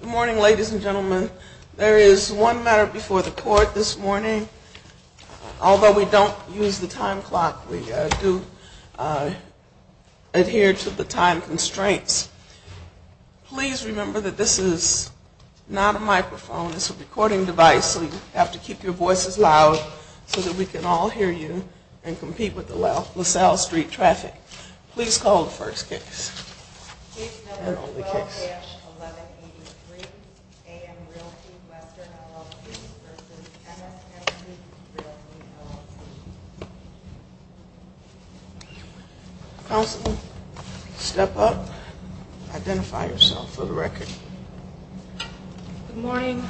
Good morning, ladies and gentlemen. There is one matter before the court this morning. Although we don't use the time clock, we do adhere to the time constraints. Please remember that this is not a microphone. It's a recording device, so you have to keep your voices loud so that we can all hear you and compete with the LaSalle Street traffic. Please call the first case. Case number 12-1183. A.M. Realty Western, LLC. v. MSMC Realty, LLC. Counsel, step up. Identify yourself for the record. Good morning.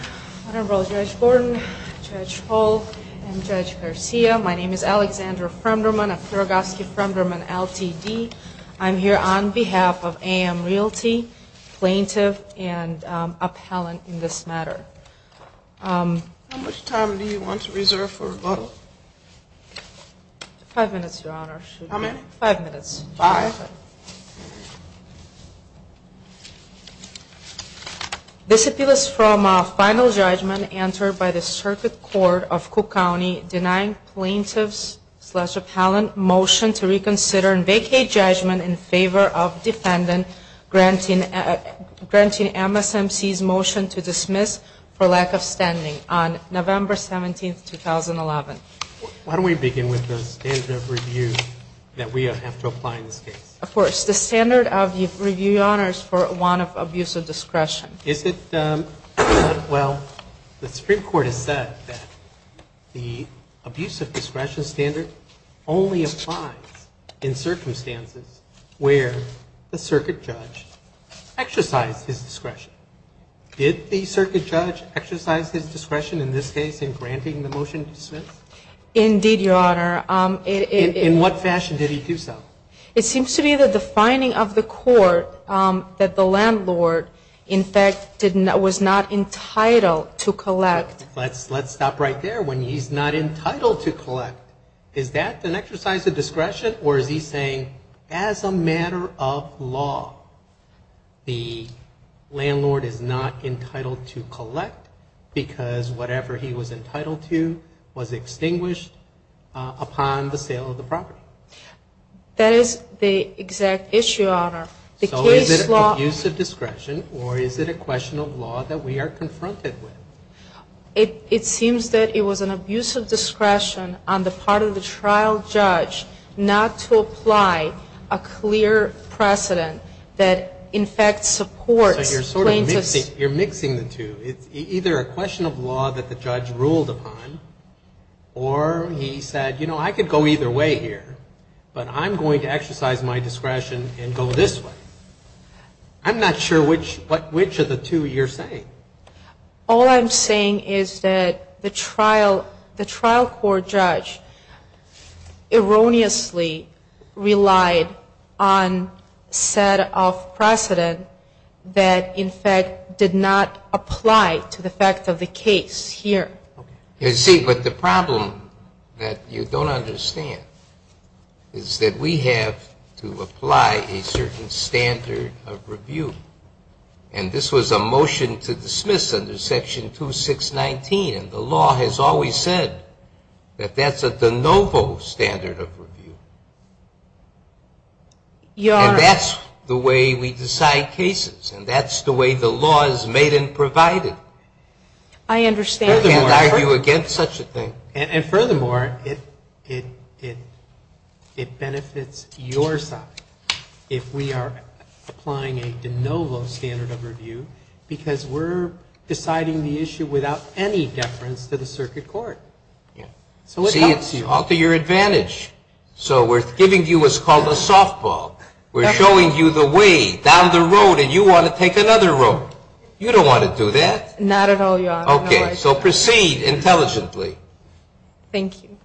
My name is Judge Gordon, Judge Hall, and Judge Garcia. My name is Alexandra Fremderman of Kiragoski Fremderman Ltd. I'm here on behalf of A.M. Realty, plaintiff, and appellant in this matter. How much time do you want to reserve for rebuttal? Five minutes, Your Honor. How many? Five minutes. Five? Five. This appeal is from a final judgment entered by the Circuit Court of Cook County denying plaintiff's-appellant motion to reconsider and vacate judgment in favor of defendant granting MSMC's motion to dismiss for lack of standing on November 17, 2011. Why don't we begin with the standard of review that we have to apply in this case? Of course. The standard of review, Your Honor, is for one of abuse of discretion. Is it? Well, the Supreme Court has said that the abuse of discretion standard only applies in circumstances where the circuit judge exercised his discretion. Did the circuit judge exercise his discretion in this case in granting the motion to dismiss? Indeed, Your Honor. In what fashion did he do so? It seems to me that the finding of the court that the landlord, in fact, was not entitled to collect- Let's stop right there. When he's not entitled to collect, is that an exercise of discretion or is he saying, as a matter of law, the landlord is not entitled to collect because whatever he was entitled to was extinguished upon the sale of the property? That is the exact issue, Your Honor. So is it abuse of discretion or is it a question of law that we are confronted with? It seems that it was an abuse of discretion on the part of the trial judge not to apply a clear precedent that, in fact, supports plaintiffs- So you're sort of mixing the two. It's either a question of law that the judge ruled upon or he said, you know, I could go either way here, but I'm going to exercise my discretion and go this way. I'm not sure which of the two you're saying. All I'm saying is that the trial court judge erroneously relied on a set of precedent that, in fact, did not apply to the fact of the case here. You see, but the problem that you don't understand is that we have to apply a certain standard of review. And this was a motion to dismiss under Section 2619, and the law has always said that that's a de novo standard of review. And that's the way we decide cases, and that's the way the law is made and provided. I understand. I can't argue against such a thing. And furthermore, it benefits your side if we are applying a de novo standard of review because we're deciding the issue without any deference to the circuit court. See, it's to your advantage. So we're giving you what's called a softball. We're showing you the way down the road, and you want to take another road. You don't want to do that. Not at all, Your Honor. Okay. So proceed intelligently. Thank you.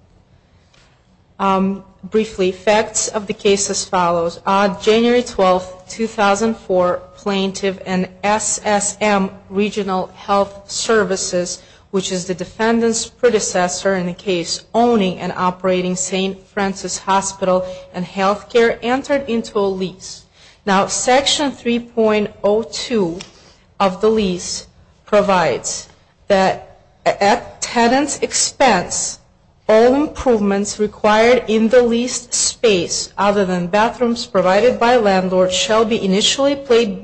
Briefly, facts of the case as follows. On January 12, 2004, Plaintiff and SSM Regional Health Services, which is the defendant's predecessor in the case owning and operating St. Francis Hospital and Health Care, entered into a lease. Now, Section 3.02 of the lease provides that at tenant's expense, all improvements required in the leased space other than bathrooms provided by landlord shall be initially paid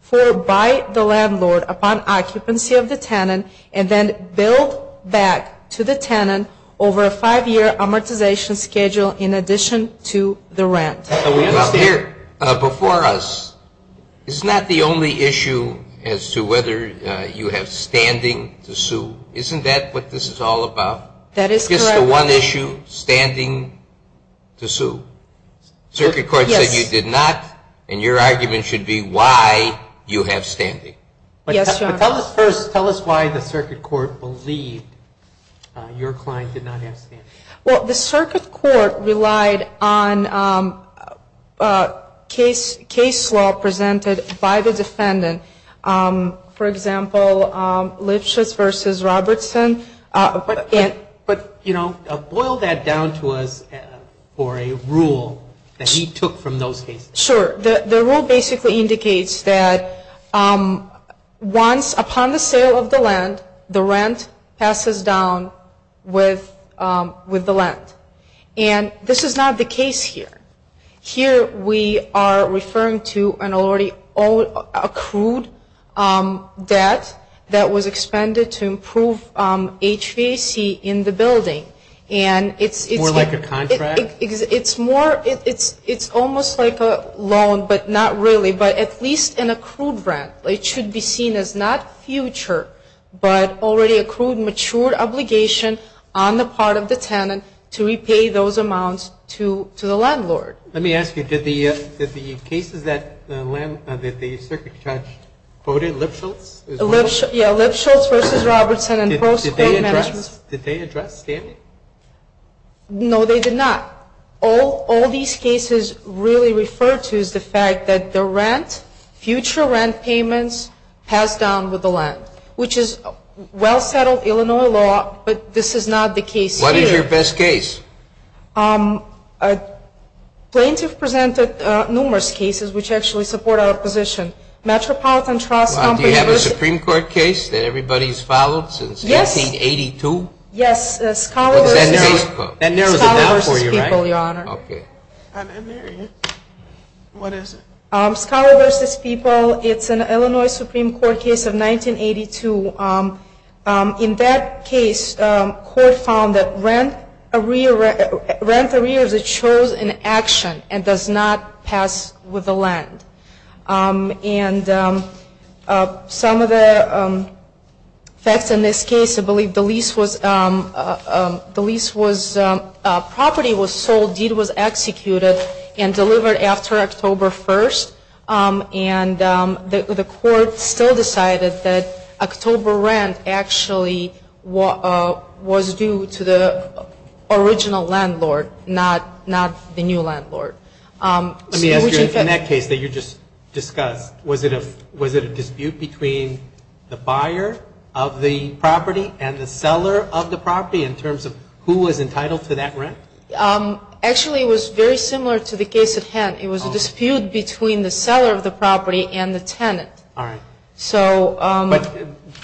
for by the landlord upon occupancy of the tenant and then billed back to the tenant over a five-year amortization schedule in addition to the rent. Now, here before us is not the only issue as to whether you have standing to sue. Isn't that what this is all about? That is correct. Just the one issue, standing to sue. Circuit court said you did not, and your argument should be why you have standing. Yes, Your Honor. But tell us first, tell us why the circuit court believed your client did not have standing. Well, the circuit court relied on case law presented by the defendant. For example, Lipschitz v. Robertson. But, you know, boil that down to us for a rule that he took from those cases. Sure. The rule basically indicates that once upon the sale of the land, the rent passes down with the land. And this is not the case here. Here we are referring to an already accrued debt that was expended to improve HVAC in the building. More like a contract? It's more, it's almost like a loan, but not really, but at least an accrued rent. It should be seen as not future, but already accrued, matured obligation on the part of the tenant to repay those amounts to the landlord. Let me ask you, did the cases that the circuit judge quoted, Lipschitz? Yeah, Lipschitz v. Robertson and post-court management. Did they address standing? No, they did not. All these cases really refer to is the fact that the rent, future rent payments, pass down with the land, which is well-settled Illinois law, but this is not the case here. What is your best case? Plaintiffs presented numerous cases which actually support our position. Metropolitan Trust Company v. Do you have a Supreme Court case that everybody's followed since 1982? Yes, Scholar v. People. That narrows it down for you, right? Scholar v. People, Your Honor. Okay. What is it? Scholar v. People, it's an Illinois Supreme Court case of 1982. In that case, court found that rent arrears are chosen in action and does not pass with the land. And some of the facts in this case, I believe the lease was, the lease was, property was sold, deed was executed and delivered after October 1st. And the court still decided that October rent actually was due to the original landlord, not the new landlord. Let me ask you, in that case that you just discussed, was it a dispute between the buyer of the property and the seller of the property in terms of who was entitled to that rent? Actually, it was very similar to the case at hand. It was a dispute between the seller of the property and the tenant. All right. So –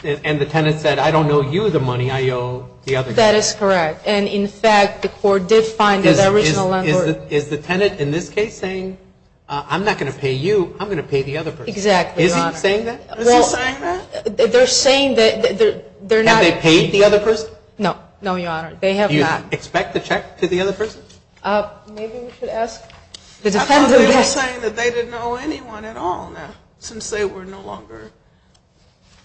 And the tenant said, I don't owe you the money, I owe the other guy. That is correct. And, in fact, the court did find that the original landlord – Is the tenant in this case saying, I'm not going to pay you, I'm going to pay the other person? Exactly, Your Honor. Is he saying that? Is he saying that? They're saying that they're not – Have they paid the other person? No. No, Your Honor. They have not. Do you expect a check to the other person? Maybe we should ask the defendant – I thought they were saying that they didn't owe anyone at all now, since they were no longer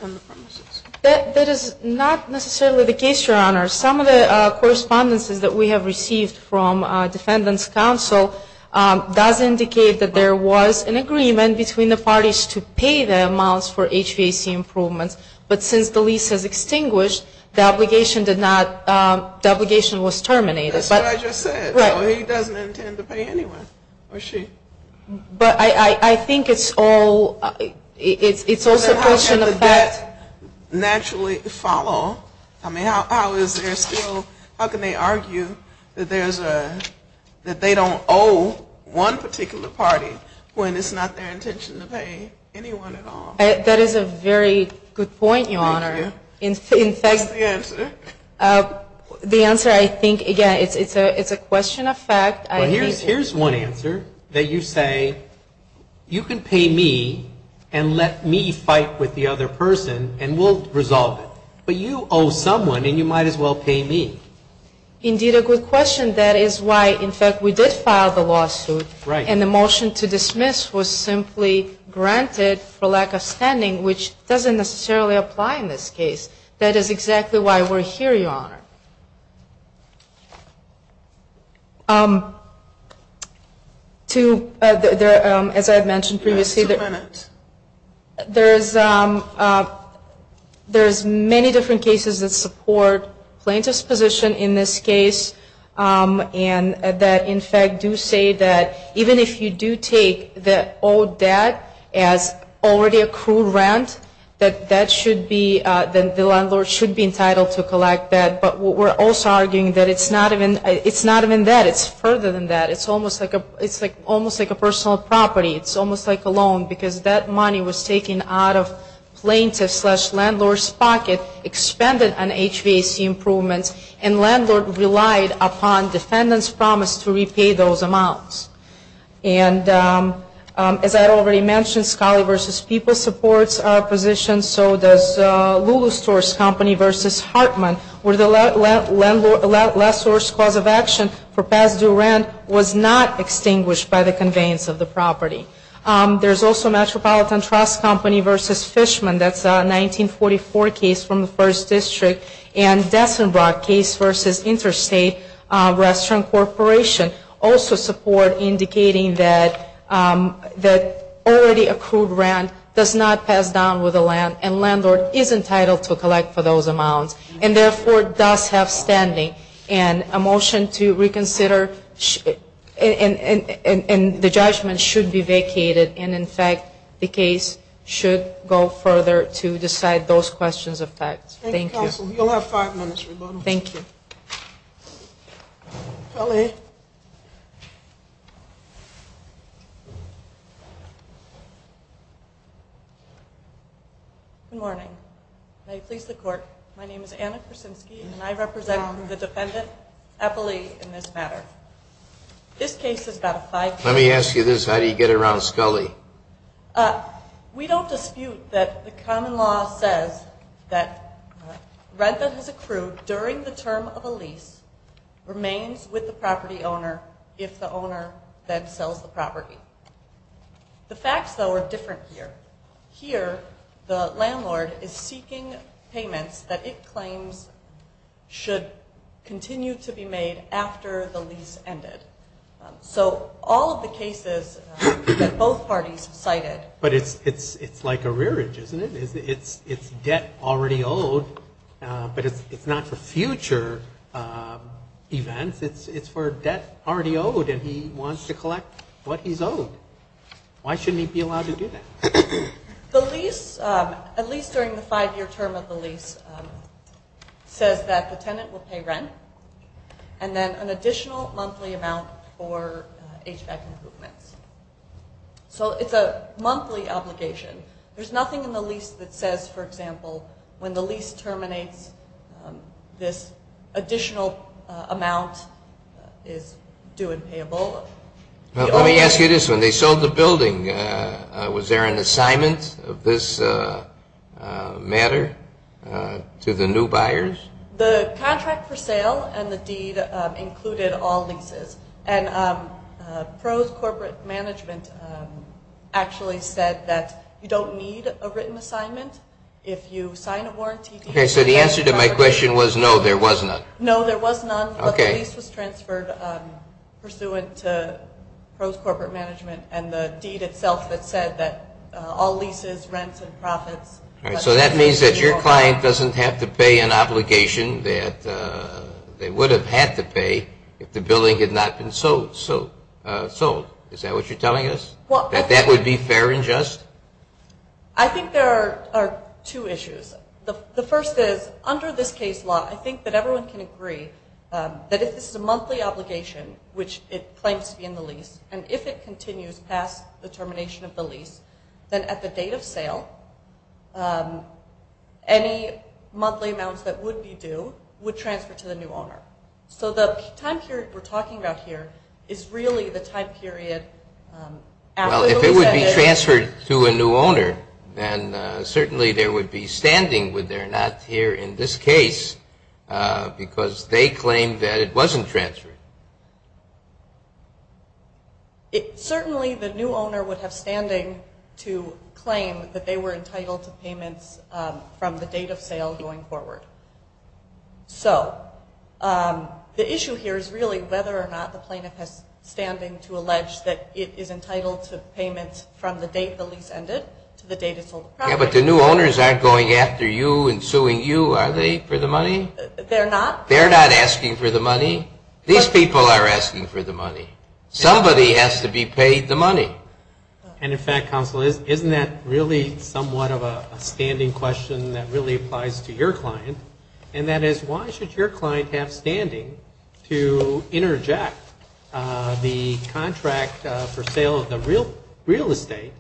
on the premises. That is not necessarily the case, Your Honor. Some of the correspondences that we have received from defendants' counsel does indicate that there was an agreement between the parties to pay the amounts for HVAC improvements, but since the lease has extinguished, the obligation did not – the obligation was terminated. That's what I just said. Right. So he doesn't intend to pay anyone, or she? But I think it's all – it's also a question of – naturally follow. I mean, how is there still – how can they argue that there's a – that they don't owe one particular party when it's not their intention to pay anyone at all? That is a very good point, Your Honor. Thank you. In fact – What's the answer? The answer, I think, again, it's a question of fact. Well, here's one answer, that you say, you can pay me and let me fight with the other person, and we'll resolve it. But you owe someone, and you might as well pay me. Indeed, a good question. That is why, in fact, we did file the lawsuit. Right. And the motion to dismiss was simply granted for lack of standing, which doesn't necessarily apply in this case. That is exactly why we're here, Your Honor. To – as I had mentioned previously – Two minutes. There's many different cases that support plaintiff's position in this case, and that, in fact, do say that even if you do take that as already accrued rent, that that should be – that the landlord should be entitled to collect that. But we're also arguing that it's not even that. It's further than that. It's almost like a personal property. It's almost like a loan, because that money was taken out of plaintiff's slash landlord's pocket, expended on HVAC improvements, and landlord relied upon defendant's promise to repay those amounts. And as I had already mentioned, Scali v. People supports our position, so does Lulu Stores Company v. Hartman, where the last source cause of action for past due rent was not extinguished by the conveyance of the property. There's also Metropolitan Trust Company v. Fishman. That's a 1944 case from the 1st District, and Dessenbrock case v. Interstate Restaurant Corporation also support indicating that already accrued rent does not pass down with the land, and landlord is entitled to collect for those amounts, and therefore does have standing. And a motion to reconsider – and the judgment should be vacated, and, in fact, the case should go further to decide those questions of fact. Thank you. Thank you, counsel. You'll have five minutes, Rebuttal. Thank you. Scali. Good morning. May it please the Court, my name is Anna Krasinski, and I represent the defendant, Eppley, in this matter. This case is about a five-year-old. Let me ask you this. How do you get around Scali? We don't dispute that the common law says that rent that has accrued during the term of a lease remains with the property owner if the owner then sells the property. The facts, though, are different here. Here, the landlord is seeking payments that it claims should continue to be made after the lease ended. So all of the cases that both parties cited – But it's like a rearage, isn't it? It's debt already owed, but it's not for future events. It's for debt already owed, and he wants to collect what he's owed. Why shouldn't he be allowed to do that? The lease, at least during the five-year term of the lease, says that the tenant will pay rent, and then an additional monthly amount for HVAC improvements. So it's a monthly obligation. There's nothing in the lease that says, for example, when the lease terminates, this additional amount is due and payable. Let me ask you this one. They sold the building. Was there an assignment of this matter to the new buyers? The contract for sale and the deed included all leases. And pros-corporate management actually said that you don't need a written assignment. If you sign a warranty… Okay, so the answer to my question was no, there was none. No, there was none, but the lease was transferred pursuant to pros-corporate management and the deed itself that said that all leases, rents, and profits… So that means that your client doesn't have to pay an obligation that they would have had to pay if the building had not been sold. Is that what you're telling us? That that would be fair and just? I think there are two issues. The first is, under this case law, I think that everyone can agree that if this is a monthly obligation, which it claims to be in the lease, and if it continues past the termination of the lease, then at the date of sale, any monthly amounts that would be due would transfer to the new owner. So the time period we're talking about here is really the time period after the lease ended. Well, if it would be transferred to a new owner, then certainly there would be standing, would there not, here in this case, because they claimed that it wasn't transferred. Certainly the new owner would have standing to claim that they were entitled to payments from the date of sale going forward. So the issue here is really whether or not the plaintiff has standing to allege that it is entitled to payments from the date the lease ended to the date it sold the property. Yeah, but the new owners aren't going after you and suing you, are they, for the money? They're not asking for the money? These people are asking for the money. Somebody has to be paid the money. And, in fact, counsel, isn't that really somewhat of a standing question that really applies to your client, and that is why should your client have standing to interject the contract for sale of the real estate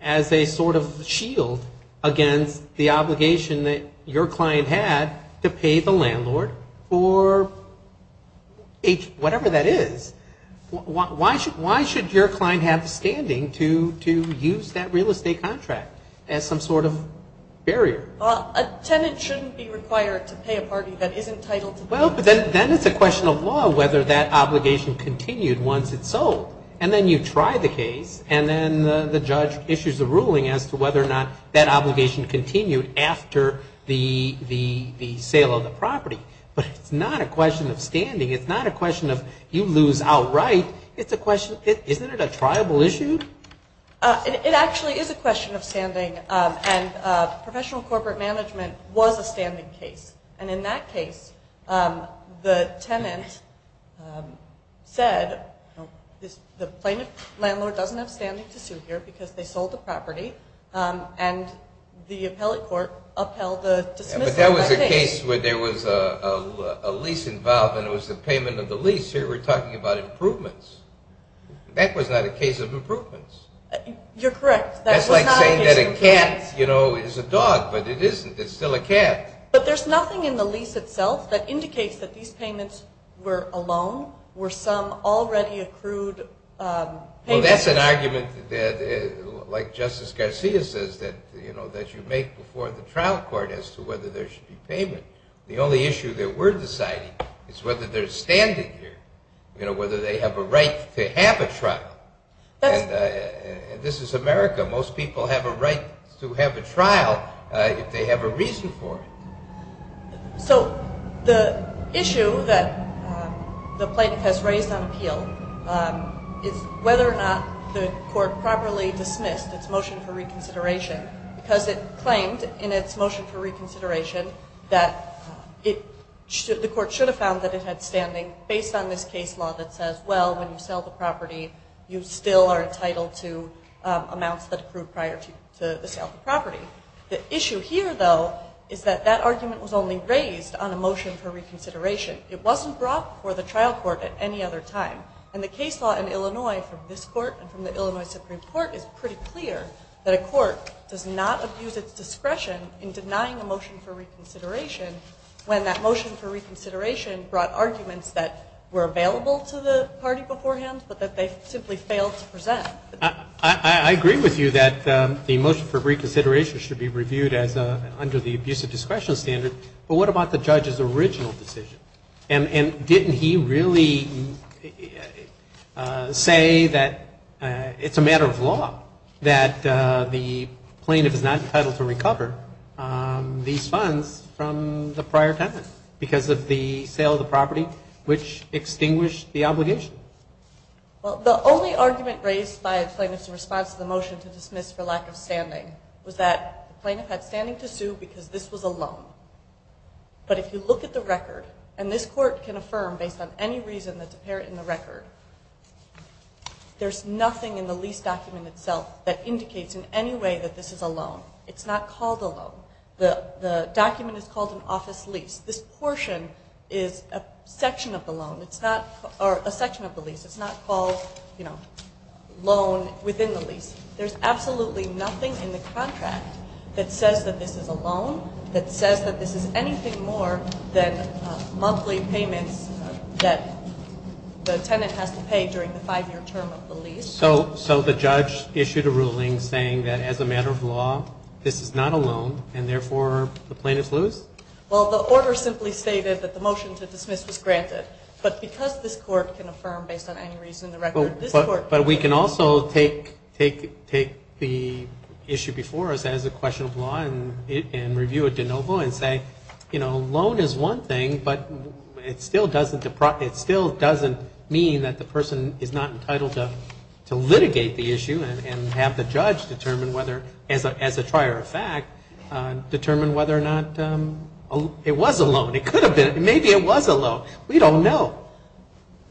as a sort of shield against the obligation that your client had to pay the landlord for whatever that is? Why should your client have standing to use that real estate contract as some sort of barrier? A tenant shouldn't be required to pay a party that isn't entitled to pay. Well, but then it's a question of law whether that obligation continued once it's sold. And then you try the case, and then the judge issues a ruling as to whether or not that obligation continued after the sale of the property. But it's not a question of standing. It's not a question of you lose outright. It's a question of isn't it a triable issue? It actually is a question of standing, and professional corporate management was a standing case. And in that case, the tenant said the plaintiff landlord doesn't have standing to sue here because they sold the property, and the appellate court upheld the dismissal. But that was a case where there was a lease involved, and it was the payment of the lease. Here we're talking about improvements. That was not a case of improvements. You're correct. That's like saying that a cat, you know, is a dog, but it isn't. It's still a cat. But there's nothing in the lease itself that indicates that these payments were a loan, were some already accrued payments. Well, that's an argument like Justice Garcia says that, you know, that you make before the trial court as to whether there should be payment. The only issue that we're deciding is whether there's standing here, you know, whether they have a right to have a trial. And this is America. Most people have a right to have a trial if they have a reason for it. So the issue that the plaintiff has raised on appeal is whether or not the court properly dismissed its motion for reconsideration because it claimed in its motion for reconsideration that the court should have found that it had standing based on this case law that says, well, when you sell the property, you still are entitled to amounts that accrued prior to the sale of the property. The issue here, though, is that that argument was only raised on a motion for reconsideration. It wasn't brought before the trial court at any other time. And the case law in Illinois from this court and from the Illinois Supreme Court is pretty clear that a court does not abuse its discretion in denying a motion for reconsideration when that motion for reconsideration brought arguments that were available to the party beforehand but that they simply failed to present. I agree with you that the motion for reconsideration should be reviewed as under the abusive discretion standard. But what about the judge's original decision? And didn't he really say that it's a matter of law that the plaintiff is not entitled to recover these funds from the prior tenant because of the sale of the property, which extinguished the obligation? Well, the only argument raised by a plaintiff's response to the motion to dismiss for lack of standing was that the plaintiff had standing to sue because this was a loan. But if you look at the record, and this court can affirm based on any reason that's apparent in the record, there's nothing in the lease document itself that indicates in any way that this is a loan. It's not called a loan. The document is called an office lease. This portion is a section of the loan. It's not a section of the lease. It's not called, you know, loan within the lease. There's absolutely nothing in the contract that says that this is a loan, that says that this is anything more than monthly payments that the tenant has to pay during the five-year term of the lease. So the judge issued a ruling saying that as a matter of law, this is not a loan, and therefore the plaintiff's loose? Well, the order simply stated that the motion to dismiss was granted. But because this court can affirm based on any reason in the record, this court can affirm. But we can also take the issue before us as a question of law and review it de novo and say, you know, loan is one thing, but it still doesn't mean that the person is not entitled to litigate the issue and have the judge determine whether, as a trier of fact, determine whether or not it was a loan. It could have been. Maybe it was a loan. We don't know.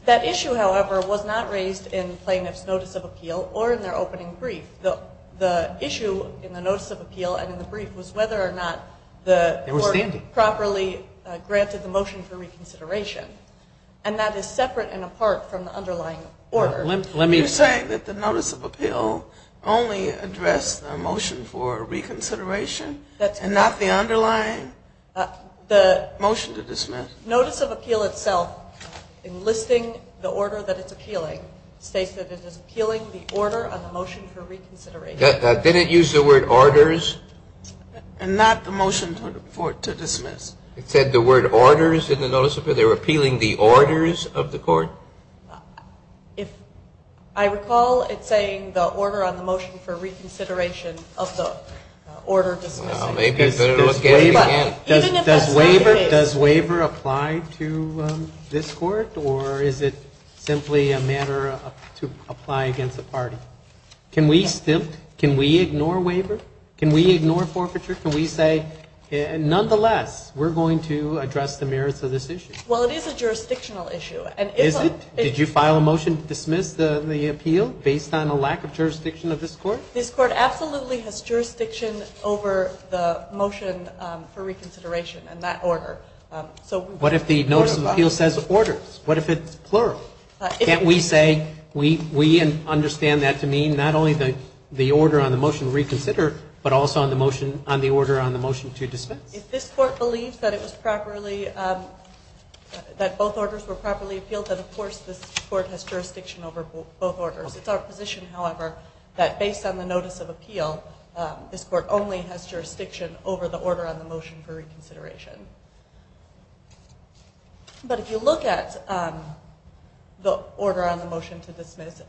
That issue, however, was not raised in plaintiff's notice of appeal or in their opening brief. The issue in the notice of appeal and in the brief was whether or not the court properly granted the motion for reconsideration. And that is separate and apart from the underlying order. Are you saying that the notice of appeal only addressed the motion for reconsideration and not the underlying motion to dismiss? Notice of appeal itself, enlisting the order that it's appealing, states that it is appealing the order of the motion for reconsideration. Didn't it use the word orders? And not the motion for it to dismiss. It said the word orders in the notice of appeal. They were appealing the orders of the court? I recall it saying the order on the motion for reconsideration of the order of dismissal. Does waiver apply to this court, or is it simply a matter to apply against the party? Can we ignore waiver? Can we ignore forfeiture? Can we say, nonetheless, we're going to address the merits of this issue? Well, it is a jurisdictional issue. Is it? Did you file a motion to dismiss the appeal based on a lack of jurisdiction of this court? This court absolutely has jurisdiction over the motion for reconsideration and that order. What if the notice of appeal says orders? What if it's plural? Can't we say we understand that to mean not only the order on the motion to reconsider, but also on the order on the motion to dismiss? If this court believes that both orders were properly appealed, then, of course, this court has jurisdiction over both orders. It's our position, however, that based on the notice of appeal, this court only has jurisdiction over the order on the motion for reconsideration. But if you look at the order on the motion to dismiss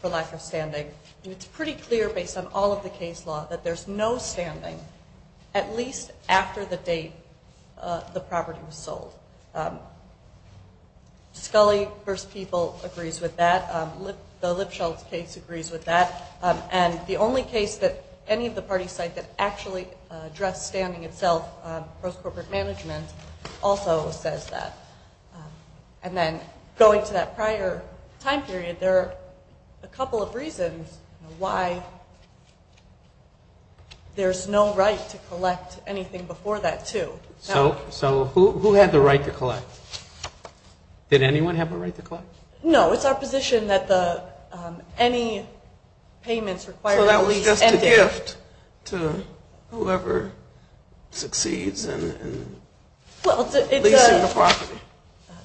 for lack of standing, it's pretty clear based on all of the case law that there's no standing at least after the date the property was sold. Scully v. People agrees with that. The Lipschultz case agrees with that. And the only case that any of the parties cite that actually addressed standing itself, Post-Corporate Management, also says that. And then going to that prior time period, there are a couple of reasons why there's no right to collect anything before that, too. So who had the right to collect? Did anyone have a right to collect? No, it's our position that any payments required to lease ended. So that was just a gift to whoever succeeds in leasing the property?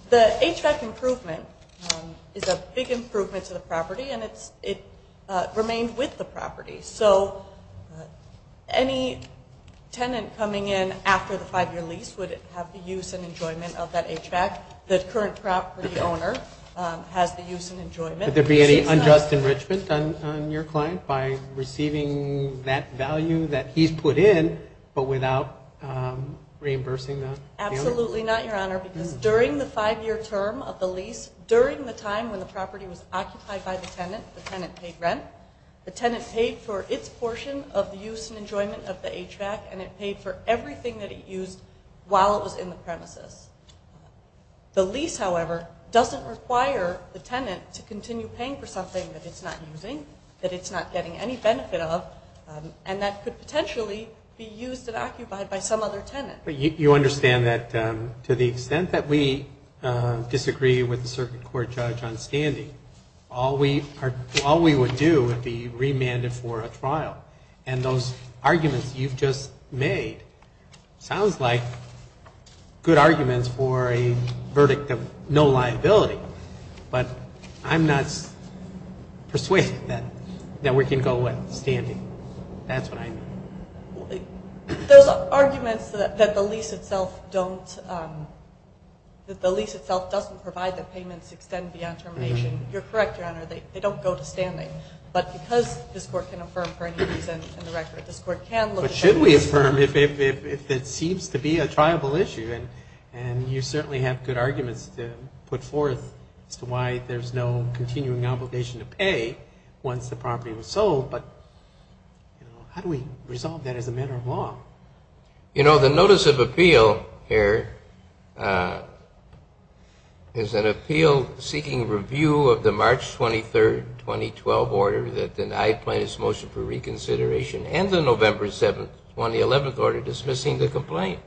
The HVAC improvement is a big improvement to the property, and it remained with the property. So any tenant coming in after the five-year lease would have the use and enjoyment of that HVAC. The current property owner has the use and enjoyment. Would there be any unjust enrichment on your client by receiving that value that he's put in but without reimbursing the owner? Absolutely not, Your Honor, because during the five-year term of the lease, during the time when the property was occupied by the tenant, the tenant paid rent, the tenant paid for its portion of the use and enjoyment of the HVAC, and it paid for everything that it used while it was in the premises. The lease, however, doesn't require the tenant to continue paying for something that it's not using, that it's not getting any benefit of, and that could potentially be used and occupied by some other tenant. But you understand that to the extent that we disagree with the circuit court judge on standing, all we would do would be remanded for a trial. And those arguments you've just made sounds like good arguments for a verdict of no liability, but I'm not persuaded that we can go with standing. That's what I mean. Those arguments that the lease itself doesn't provide the payments extend beyond termination, you're correct, Your Honor, they don't go to standing. But because this Court can affirm for any reason in the record, this Court can look at it. But should we affirm if it seems to be a triable issue? And you certainly have good arguments to put forth as to why there's no continuing obligation to pay once the property was sold, but how do we resolve that as a matter of law? You know, the notice of appeal here is an appeal seeking review of the March 23, 2012, order that denied plaintiff's motion for reconsideration and the November 7, 2011, order dismissing the complaint.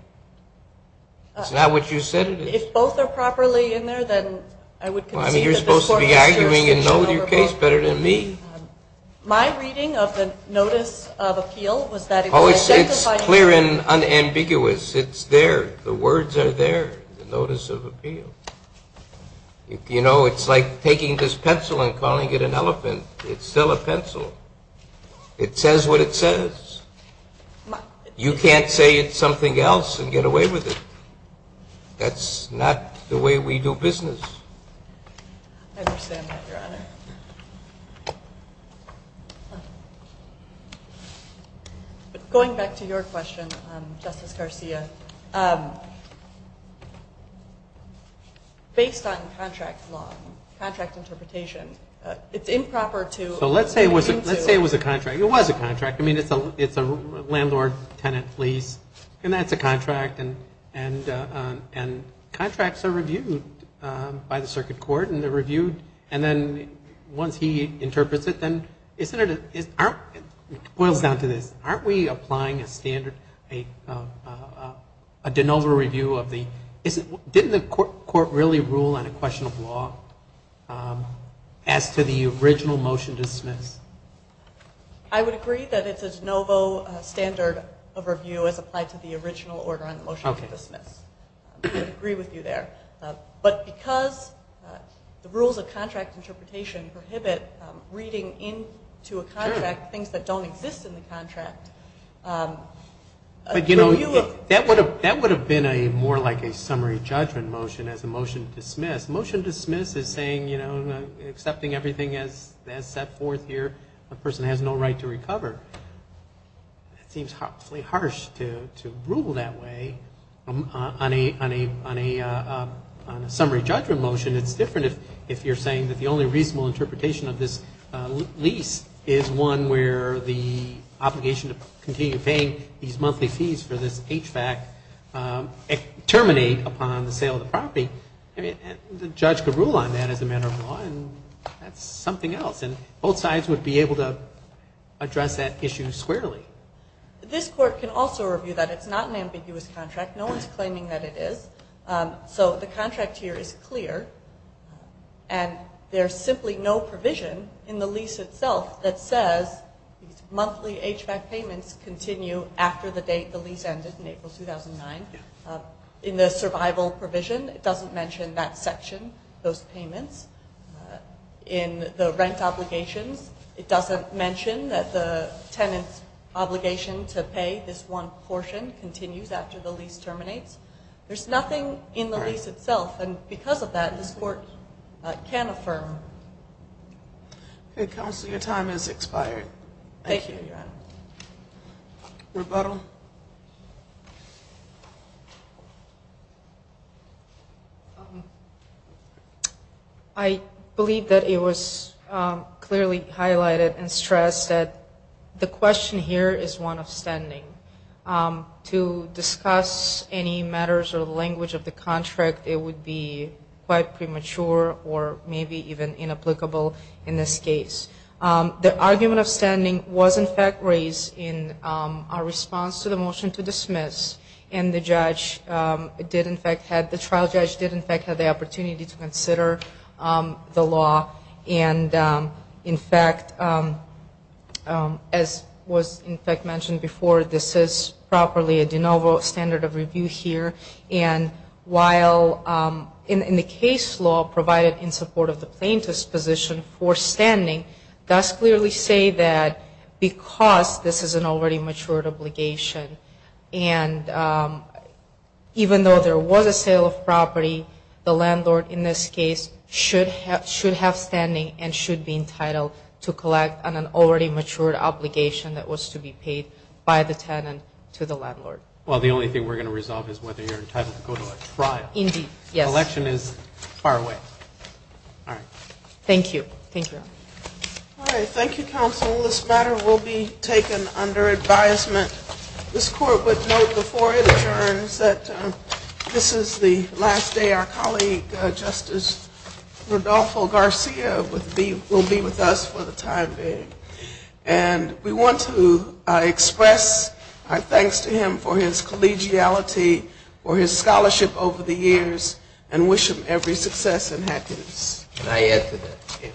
It's not what you said it is. If both are properly in there, then I would concede that this Court has jurisdiction over both. Well, I mean, you're supposed to be arguing and know your case better than me. My reading of the notice of appeal was that it was a... Oh, it's clear and unambiguous. It's there. The words are there, the notice of appeal. You know, it's like taking this pencil and calling it an elephant. It's still a pencil. It says what it says. You can't say it's something else and get away with it. That's not the way we do business. I understand that, Your Honor. Going back to your question, Justice Garcia, based on contract law, contract interpretation, it's improper to... So let's say it was a contract. It was a contract. I mean, it's a landlord-tenant lease, and that's a contract, and contracts are reviewed by the Circuit Court, and they're reviewed, and then once he interprets it, then isn't it... It boils down to this. Aren't we applying a standard, a de novo review of the... Didn't the Court really rule on a question of law as to the original motion dismissed? I would agree that it's a de novo standard overview as applied to the original order on the motion to dismiss. I would agree with you there. But because the rules of contract interpretation prohibit reading into a contract things that don't exist in the contract... But, you know, that would have been more like a summary judgment motion as a motion dismissed. As saying, you know, accepting everything as set forth here, a person has no right to recover. It seems awfully harsh to rule that way on a summary judgment motion. It's different if you're saying that the only reasonable interpretation of this lease is one where the obligation to continue paying these monthly fees for this HVAC terminate upon the sale of the property. I mean, the judge could rule on that as a matter of law, and that's something else. And both sides would be able to address that issue squarely. This Court can also review that it's not an ambiguous contract. No one's claiming that it is. So the contract here is clear, and there's simply no provision in the lease itself that says these monthly HVAC payments continue after the date the lease ended in April 2009. In the survival provision, it doesn't mention that section, those payments. In the rent obligations, it doesn't mention that the tenant's obligation to pay this one portion continues after the lease terminates. There's nothing in the lease itself, and because of that, this Court can affirm. Okay, Counselor, your time has expired. Thank you, Your Honor. Rebuttal? Rebuttal? I believe that it was clearly highlighted and stressed that the question here is one of standing. To discuss any matters or the language of the contract, it would be quite premature or maybe even inapplicable in this case. The argument of standing was, in fact, raised in our response to the motion to dismiss, and the trial judge did, in fact, have the opportunity to consider the law. And, in fact, as was, in fact, mentioned before, this is properly a de novo standard of review here. And while in the case law provided in support of the plaintiff's position for standing, does clearly say that because this is an already matured obligation, and even though there was a sale of property, the landlord in this case should have standing and should be entitled to collect on an already matured obligation that was to be paid by the tenant to the landlord. Well, the only thing we're going to resolve is whether you're entitled to go to a trial. Indeed, yes. Election is far away. All right. Thank you. Thank you, Your Honor. All right. Thank you, counsel. This matter will be taken under advisement. This court would note before it adjourns that this is the last day our colleague, Justice Rodolfo Garcia, will be with us for the time being. And we want to express our thanks to him for his collegiality, for his scholarship over the years, and wish him every success and happiness. Can I add to that?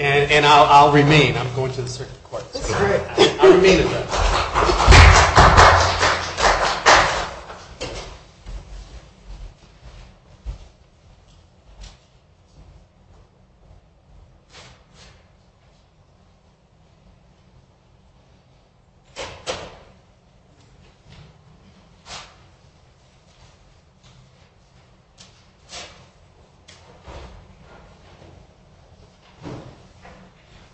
And I'll remain. I'm going to the circuit court. That's great. I'll remain. Thank you.